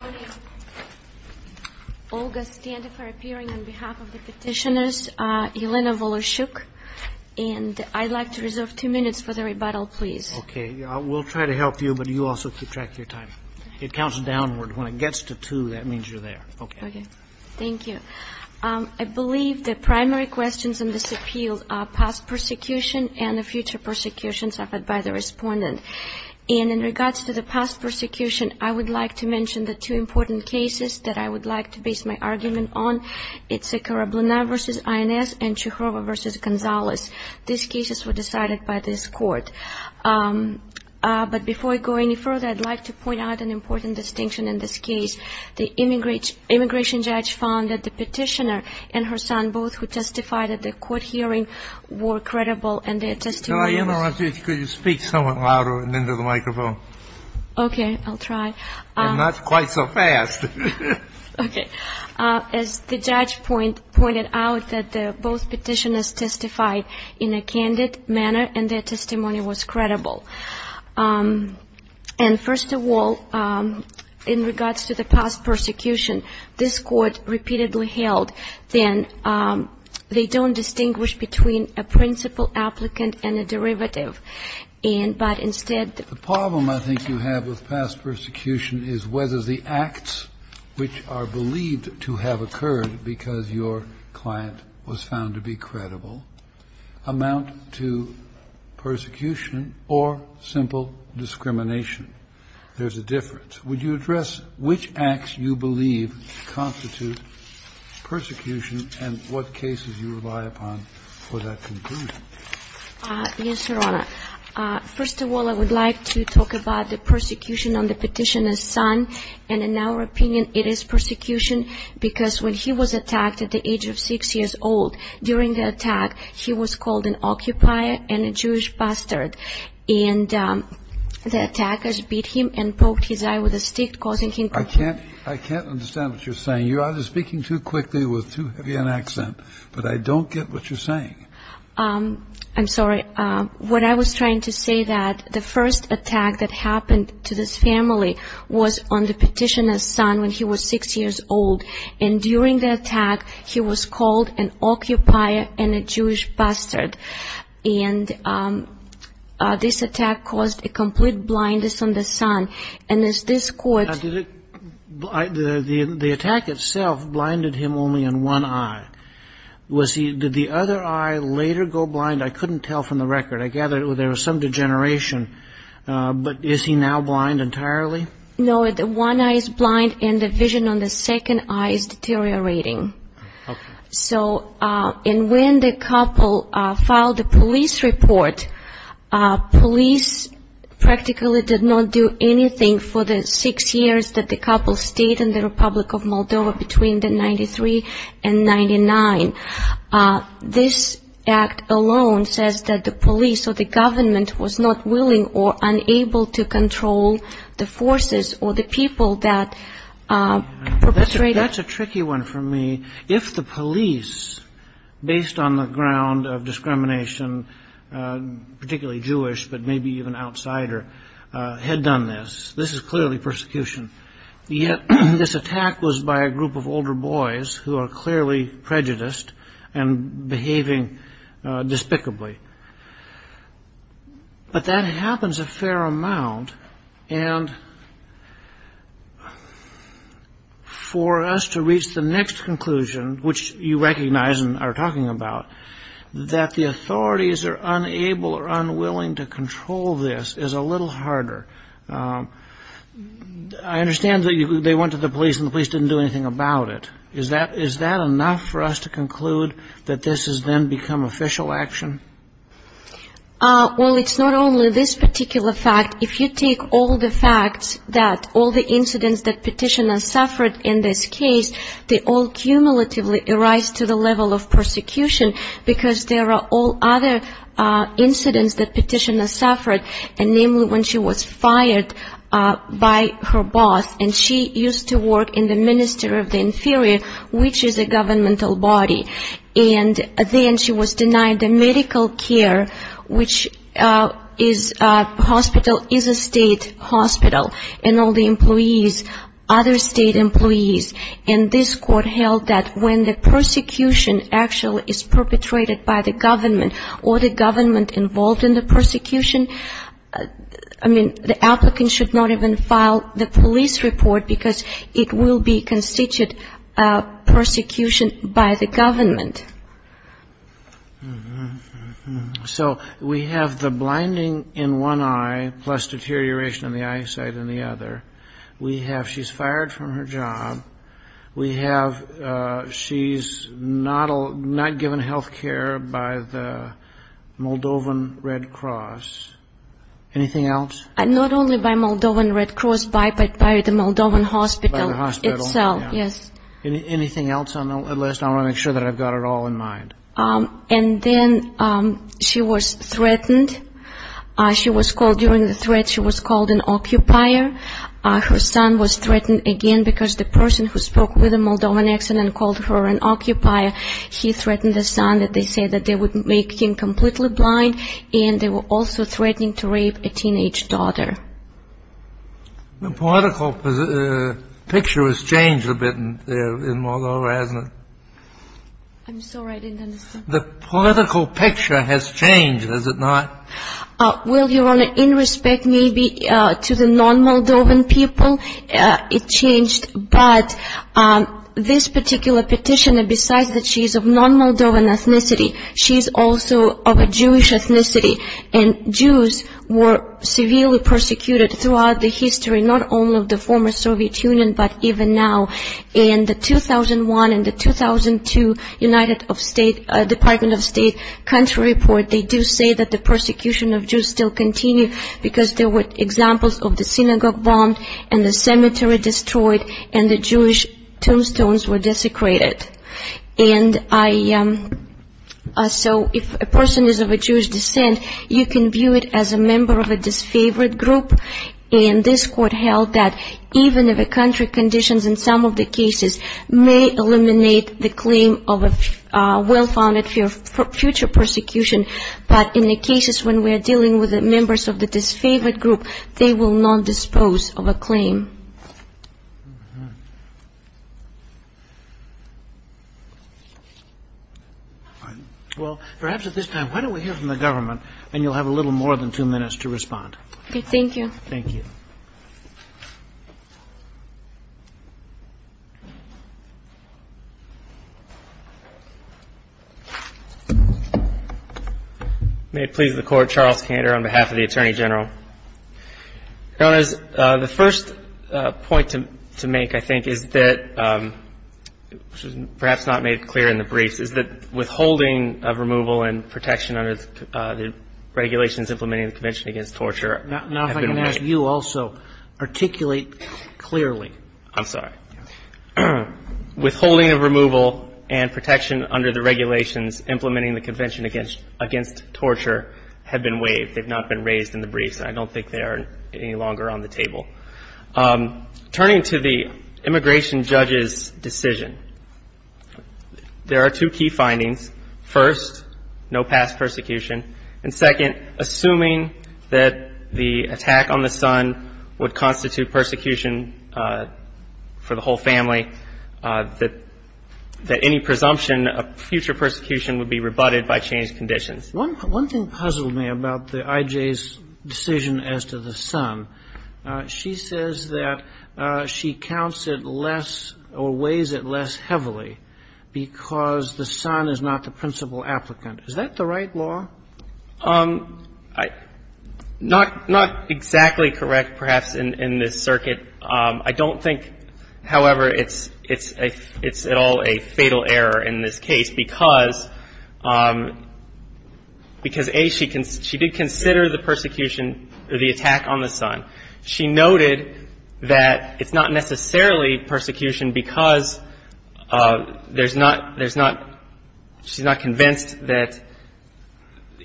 I believe the primary questions in this appeal are past persecution and the future persecution suffered by the respondent. And in regards to the past persecution, I would like to mention the two important cases that I would like to base my argument on. It's Sikora Bluna v. INS and Chukrova v. Gonzalez. These cases were decided by this court. But before I go any further, I'd like to point out an important distinction in this case. The immigration judge found that the petitioner and her son, both who testified at the court hearing, were credible and their testimony was First of all, in regards to the past persecution, this court repeatedly held that they don't distinguish between a principal applicant and a derivative. And but instead The problem I think you have with past persecution is whether the acts which are believed to have occurred because your client was found to be credible amount to persecution or simple discrimination. There's a difference. Would you address which acts you believe constitute persecution and what cases you rely upon for that conclusion? Yes, Your Honor. First of all, I would like to talk about the persecution on the petitioner's son. And in our opinion, it is persecution because when he was attacked at the age of six years old, during the attack, he was called an occupier and a Jewish bastard. And the attackers beat him and poked his eye with a stick, causing him to I can't understand what you're saying. You're either speaking too quickly with too heavy an accent, but I don't get what you're saying. I'm sorry. What I was trying to say that the first attack that happened to this family was on the petitioner's son when he was six years old. And during the attack, he was called an occupier and a Jewish bastard. And this attack caused a complete blindness on the son. And as this court The attack itself blinded him only in one eye. Did the other eye later go blind? I couldn't tell from the record. I gather there was some degeneration. But is he now blind entirely? No, the one eye is blind and the vision on the second eye is deteriorating. So when the couple filed the police report, police practically did not do anything for the six years that the couple stayed in the Republic of Moldova between the 93 and 99. This act alone says that the police or the government was not willing or unable to control the forces or the people that perpetrated. That's a tricky one for me. If the police, based on the ground of discrimination, particularly Jewish, but maybe even outsider, had done this, this is clearly persecution. Yet this attack was by a group of older boys who are clearly prejudiced and behaving despicably. But that happens a fair amount. And for us to reach the next conclusion, which you recognize and are talking about, that the authorities are unable or unwilling to control this is a little harder. I understand that they went to the police and the police didn't do anything about it. Is that enough for us to conclude that this has then become official action? Well, it's not only this particular fact. If you take all the facts that all the incidents that Petitiona suffered in this case, they all cumulatively arise to the level of persecution because there are all other incidents that Petitiona suffered. And namely, when she was fired by her boss and she used to work in the Ministry of the Inferior, which is a governmental body. And then she was denied the medical care, which is a hospital, is a state hospital, and all the employees, other state employees. And this court held that when the persecution actually is perpetrated by the government or the government involved in the persecution, I mean, the applicant should not even file the police report because it will be constituted persecution by the government. So we have the blinding in one eye plus deterioration of the eyesight in the other. We have she's fired from her job. We have she's not not given health care by the Moldovan Red Cross. Anything else? Not only by Moldovan Red Cross, but by the Moldovan hospital itself. Yes. Anything else on the list? I want to make sure that I've got it all in mind. And then she was threatened. She was called during the threat. She was called an occupier. Her son was threatened again because the person who spoke with a Moldovan accent and called her an occupier, he threatened the son that they said that they would make him completely blind. And they were also threatening to rape a teenage daughter. The political picture has changed a bit in Moldova, hasn't it? I'm sorry, I didn't understand. The political picture has changed, has it not? Well, Your Honor, in respect maybe to the non-Moldovan people, it changed. But this particular petitioner, besides that she's of non-Moldovan ethnicity, she's also of a Jewish ethnicity. And Jews were severely persecuted throughout the history, not only of the former Soviet Union, but even now. In the 2001 and the 2002 Department of State country report, they do say that the persecution of Jews still continue because there were examples of the synagogue bombed and the cemetery destroyed and the Jewish tombstones were desecrated. And so if a person is of a Jewish descent, you can view it as a member of a disfavored group. And this court held that even if a country conditions in some of the cases may eliminate the claim of a well-founded future persecution, but in the cases when we are dealing with the members of the disfavored group, they will not dispose of a claim. Well, perhaps at this time, why don't we hear from the government and you'll have a little more than two minutes to respond. Thank you. Thank you. May it please the Court, Charles Kander on behalf of the Attorney General. Your Honor, the first point to make, I think, is that, which was perhaps not made clear in the briefs, is that withholding of removal and protection under the regulations implementing the Convention Against Torture have been waived. Now if I can ask you also, articulate clearly. I'm sorry. Withholding of removal and protection under the regulations implementing the Convention Against Torture have been waived. I think they've not been raised in the briefs. I don't think they are any longer on the table. Turning to the immigration judge's decision, there are two key findings. First, no past persecution. And second, assuming that the attack on the son would constitute persecution for the whole family, that any presumption of future persecution would be rebutted by changed conditions. One thing puzzled me about the I.J.'s decision as to the son. She says that she counts it less or weighs it less heavily because the son is not the principal applicant. Is that the right law? Not exactly correct, perhaps, in this circuit. I don't think, however, it's at all a fatal error in this case because, A, she did consider the persecution, the attack on the son. She noted that it's not necessarily persecution because there's not, there's not, she's not convinced that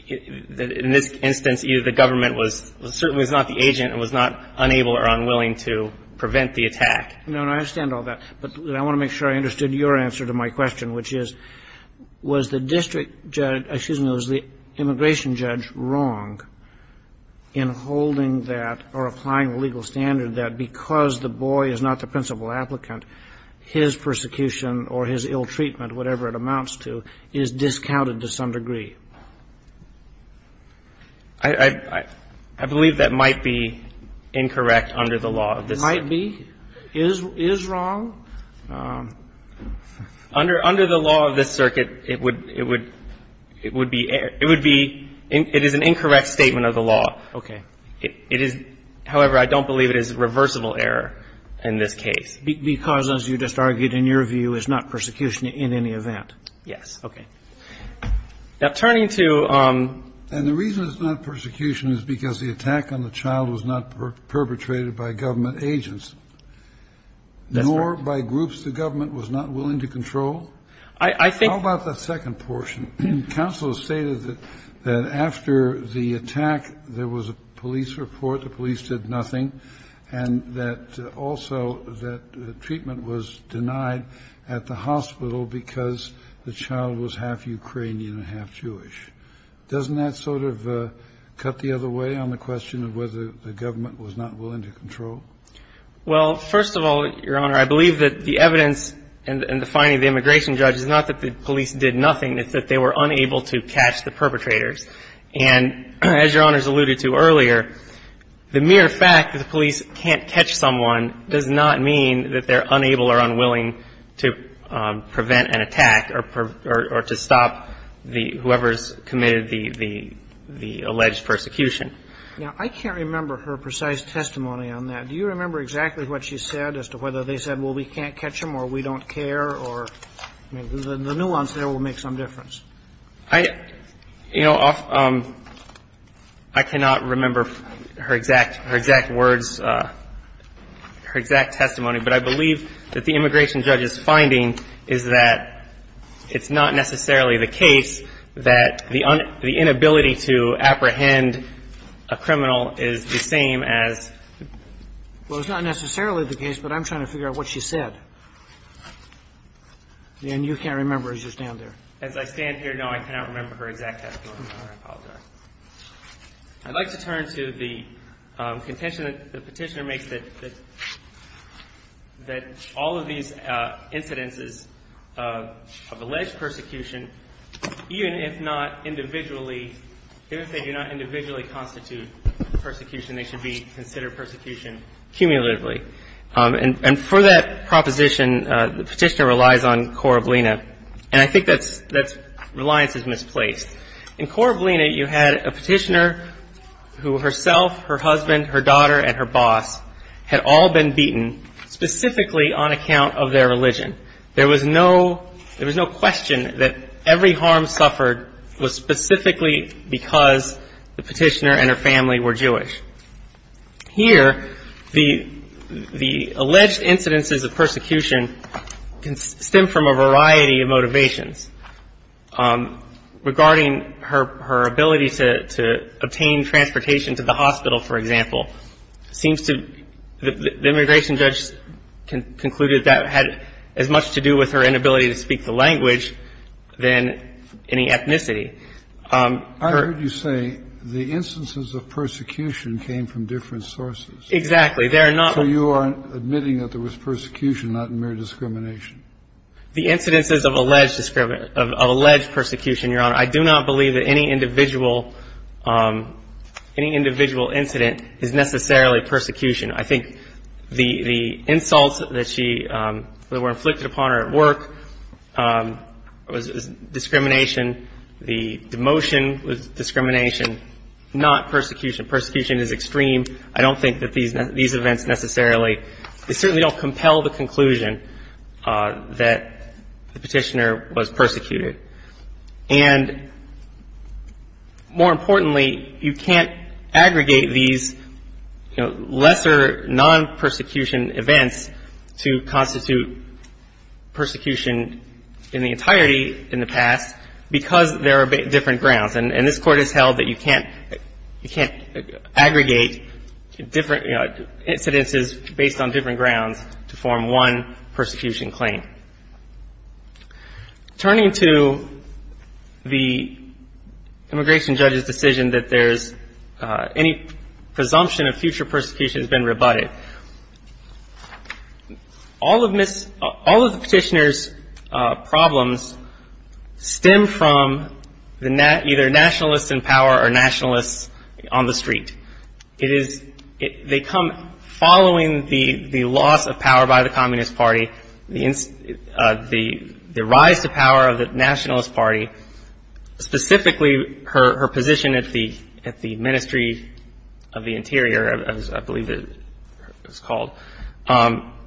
in this instance, either the government was, certainly was not the agent and was not unable or unwilling to prevent the attack. No, no, I understand all that. But I want to make sure I understood your answer to my question, which is, was the district judge, excuse me, was the immigration judge wrong in holding that or applying the legal standard that because the boy is not the principal applicant, his persecution or his ill treatment, whatever it amounts to, is discounted to some degree? I believe that might be incorrect under the law of this. Might be? Is wrong? Under the law of this circuit, it would be, it would be, it is an incorrect statement of the law. Okay. It is, however, I don't believe it is a reversible error in this case. Because, as you just argued, in your view, it's not persecution in any event. Yes. Okay. Now, turning to. And the reason it's not persecution is because the attack on the child was not perpetrated by government agents, nor by groups the government was not willing to control. I think about the second portion. Counsel stated that after the attack, there was a police report. The police did nothing and that also that treatment was denied at the hospital because the child was half Ukrainian and half Jewish. Doesn't that sort of cut the other way on the question of whether the government was not willing to control? Well, first of all, Your Honor, I believe that the evidence and the finding of the immigration judge is not that the police did nothing. It's that they were unable to catch the perpetrators. And as Your Honor's alluded to earlier, the mere fact that the police can't catch someone does not mean that they're unable or unwilling to prevent an attack or to stop the, whoever's committed the alleged persecution. Now, I can't remember her precise testimony on that. Do you remember exactly what she said as to whether they said, well, we can't catch them or we don't care or the nuance there will make some difference? I, you know, I cannot remember her exact, her exact words, her exact testimony, but I believe that the immigration judge's finding is that it's not necessarily the case that the inability to apprehend a criminal is the same as. Well, it's not necessarily the case, but I'm trying to figure out what she said. And you can't remember as you stand there. As I stand here, no, I cannot remember her exact testimony. I apologize. I'd like to turn to the contention that the petitioner makes that, that all of these incidences of alleged persecution, even if not individually, if they do not individually constitute persecution, they should be considered persecution cumulatively. And for that proposition, the petitioner relies on cor oblina, and I think that's, that's, reliance is misplaced. In cor oblina, you had a petitioner who herself, her husband, her daughter, and her boss had all been beaten specifically on account of their religion. There was no, there was no question that every harm suffered was specifically because the petitioner and her family were Jewish. Here, the, the alleged incidences of persecution can stem from a variety of motivations. Regarding her, her ability to, to obtain transportation to the hospital, for example, seems to, the immigration judge concluded that had as much to do with her inability to speak the language than any ethnicity. I heard you say the instances of persecution came from different sources. Exactly. They're not. So you are admitting that there was persecution, not mere discrimination. The incidences of alleged discrimination, of alleged persecution, Your Honor, I do not believe that any individual, any individual incident is necessarily persecution. I think the, the insults that she, that were inflicted upon her at work was discrimination, the demotion was discrimination, not persecution. Persecution is extreme. I don't think that these, these events necessarily, they certainly don't compel the conclusion that the petitioner was persecuted. And more importantly, you can't aggregate these, you know, lesser non-persecution events to constitute persecution in the entirety, in the past, because there are different grounds. And this Court has held that you can't, you can't aggregate different, you know, incidences based on different grounds to form one persecution claim. Turning to the immigration judge's decision that there's any presumption of future persecution has been rebutted. All of Ms., all of the petitioner's problems stem from the, either nationalists in power or nationalists on the street. It is, they come following the, the loss of power by the Communist Party, the, the rise to power of the Nationalist Party, specifically her, her position at the, at the Ministry of the Interior, as I believe it was called.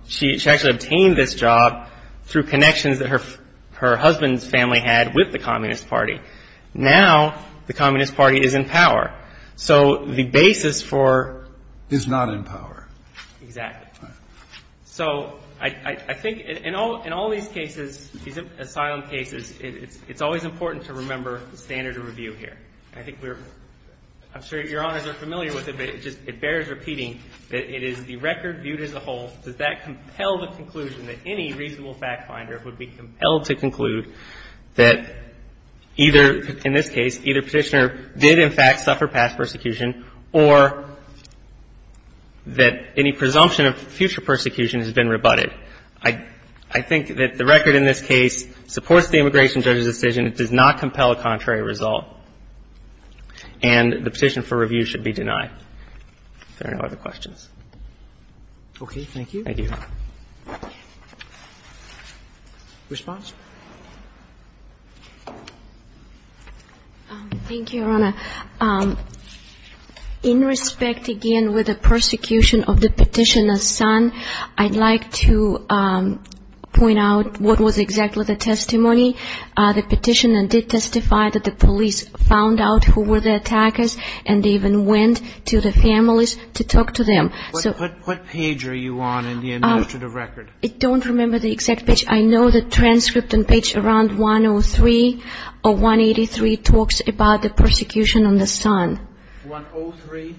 She, she actually obtained this job through connections that her, her husband's family had with the Communist Party. Now, the Communist Party is in power. So the basis for. Is not in power. Exactly. So I, I think in all, in all these cases, these asylum cases, it's, it's always important to remember the standard of review here. I think we're, I'm sure Your Honors are familiar with it, but it just, it bears repeating that it is the record viewed as a whole. Does that compel the conclusion that any reasonable fact finder would be compelled to conclude that either, in this case, either petitioner did, in fact, suffer past persecution, or that any presumption of future persecution has been rebutted? I, I think that the record in this case supports the immigration judge's decision. It does not compel a contrary result. And the petition for review should be denied. If there are no other questions. Okay. Thank you. Thank you. Response? Thank you, Your Honor. In respect, again, with the persecution of the petitioner's son, I'd like to point out what was exactly the testimony. The petitioner did testify that the police found out who were the attackers, and they even went to the families to talk to them. So what page are you on in the administrative record? I don't remember the exact page. I know the transcript and page around 103 or 183 talks about the persecution on the son. 103.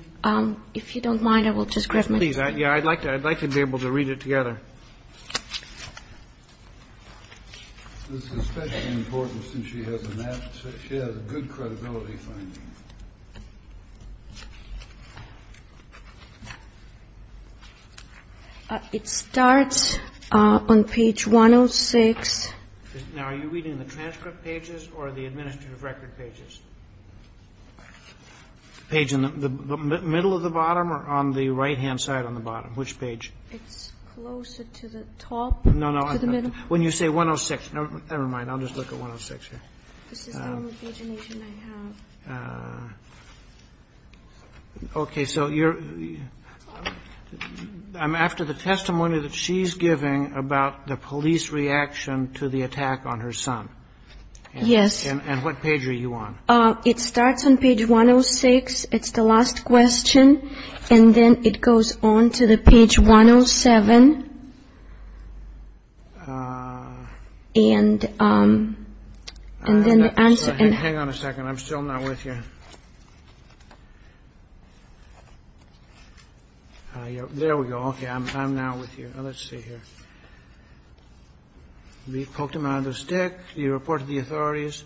If you don't mind, I will just grab my. Yeah, I'd like to. I'd like to be able to read it together. This is especially important since she has a good credibility. It starts on page 106. Now, are you reading the transcript pages or the administrative record pages? Page in the middle of the bottom or on the right hand side on the bottom. Which page? It's closer to the top. No, no. When you say 106. Never mind. I'll just look at 106. This is the only pagination I have. OK, so I'm after the testimony that she's giving about the police reaction to the attack on her son. Yes. And what page are you on? It starts on page 106. It's the last question. And then it goes on to the page 107. And and then the answer and hang on a second, I'm still not with you. There we go. OK, I'm I'm now with you. Let's see here. We poked him out of the stick. You reported the authorities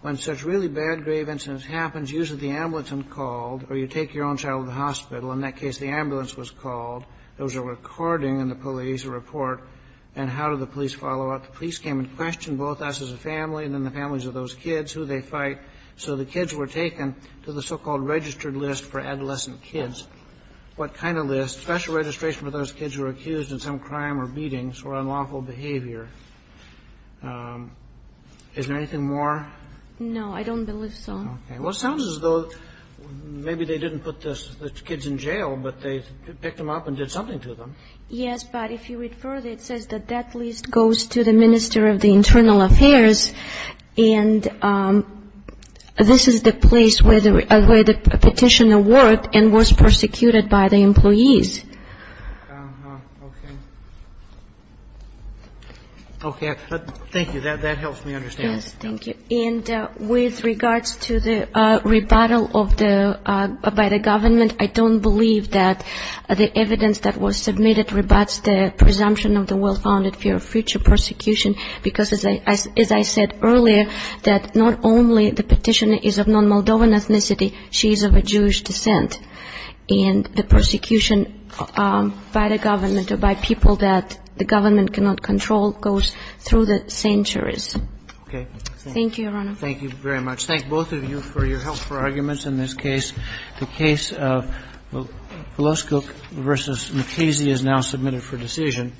when such really bad grave incidents happens, usually the ambulance and called or you take your own child to the hospital. In that case, the ambulance was called. There was a recording in the police report. And how did the police follow up? The police came and questioned both us as a family and then the families of those kids who they fight. So the kids were taken to the so-called registered list for adolescent kids. What kind of list special registration for those kids who were accused of some crime or beatings or unlawful behavior? Is there anything more? No, I don't believe so. OK, well, sounds as though maybe they didn't put the kids in jail, but they picked them up and did something to them. Yes. But if you read further, it says that that list goes to the minister of the internal affairs. And this is the place where the petitioner worked and was persecuted by the employees. OK, thank you. That helps me understand. Thank you. And with regards to the rebuttal of the by the government, I don't believe that the evidence that was submitted rebuts the presumption of the well-founded fear of future persecution. Because, as I said earlier, that not only the petitioner is of non-Moldovan ethnicity, she's of a Jewish descent. And the persecution by the government or by people that the government cannot control goes through the centuries. OK. Thank you, Your Honor. Thank you very much. Thank both of you for your help for arguments in this case. The case of Vloskuk v. Mukasey is now submitted for decision.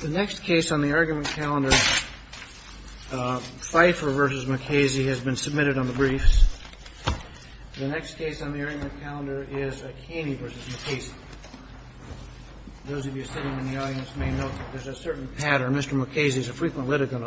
The next case on the argument calendar, Pfeiffer v. Mukasey, has been submitted on the briefs. The next case on the argument calendar is Akane v. Mukasey. Those of you sitting in the audience may know there's a certain pattern. Mr. Mukasey is a frequent litigant on Friday.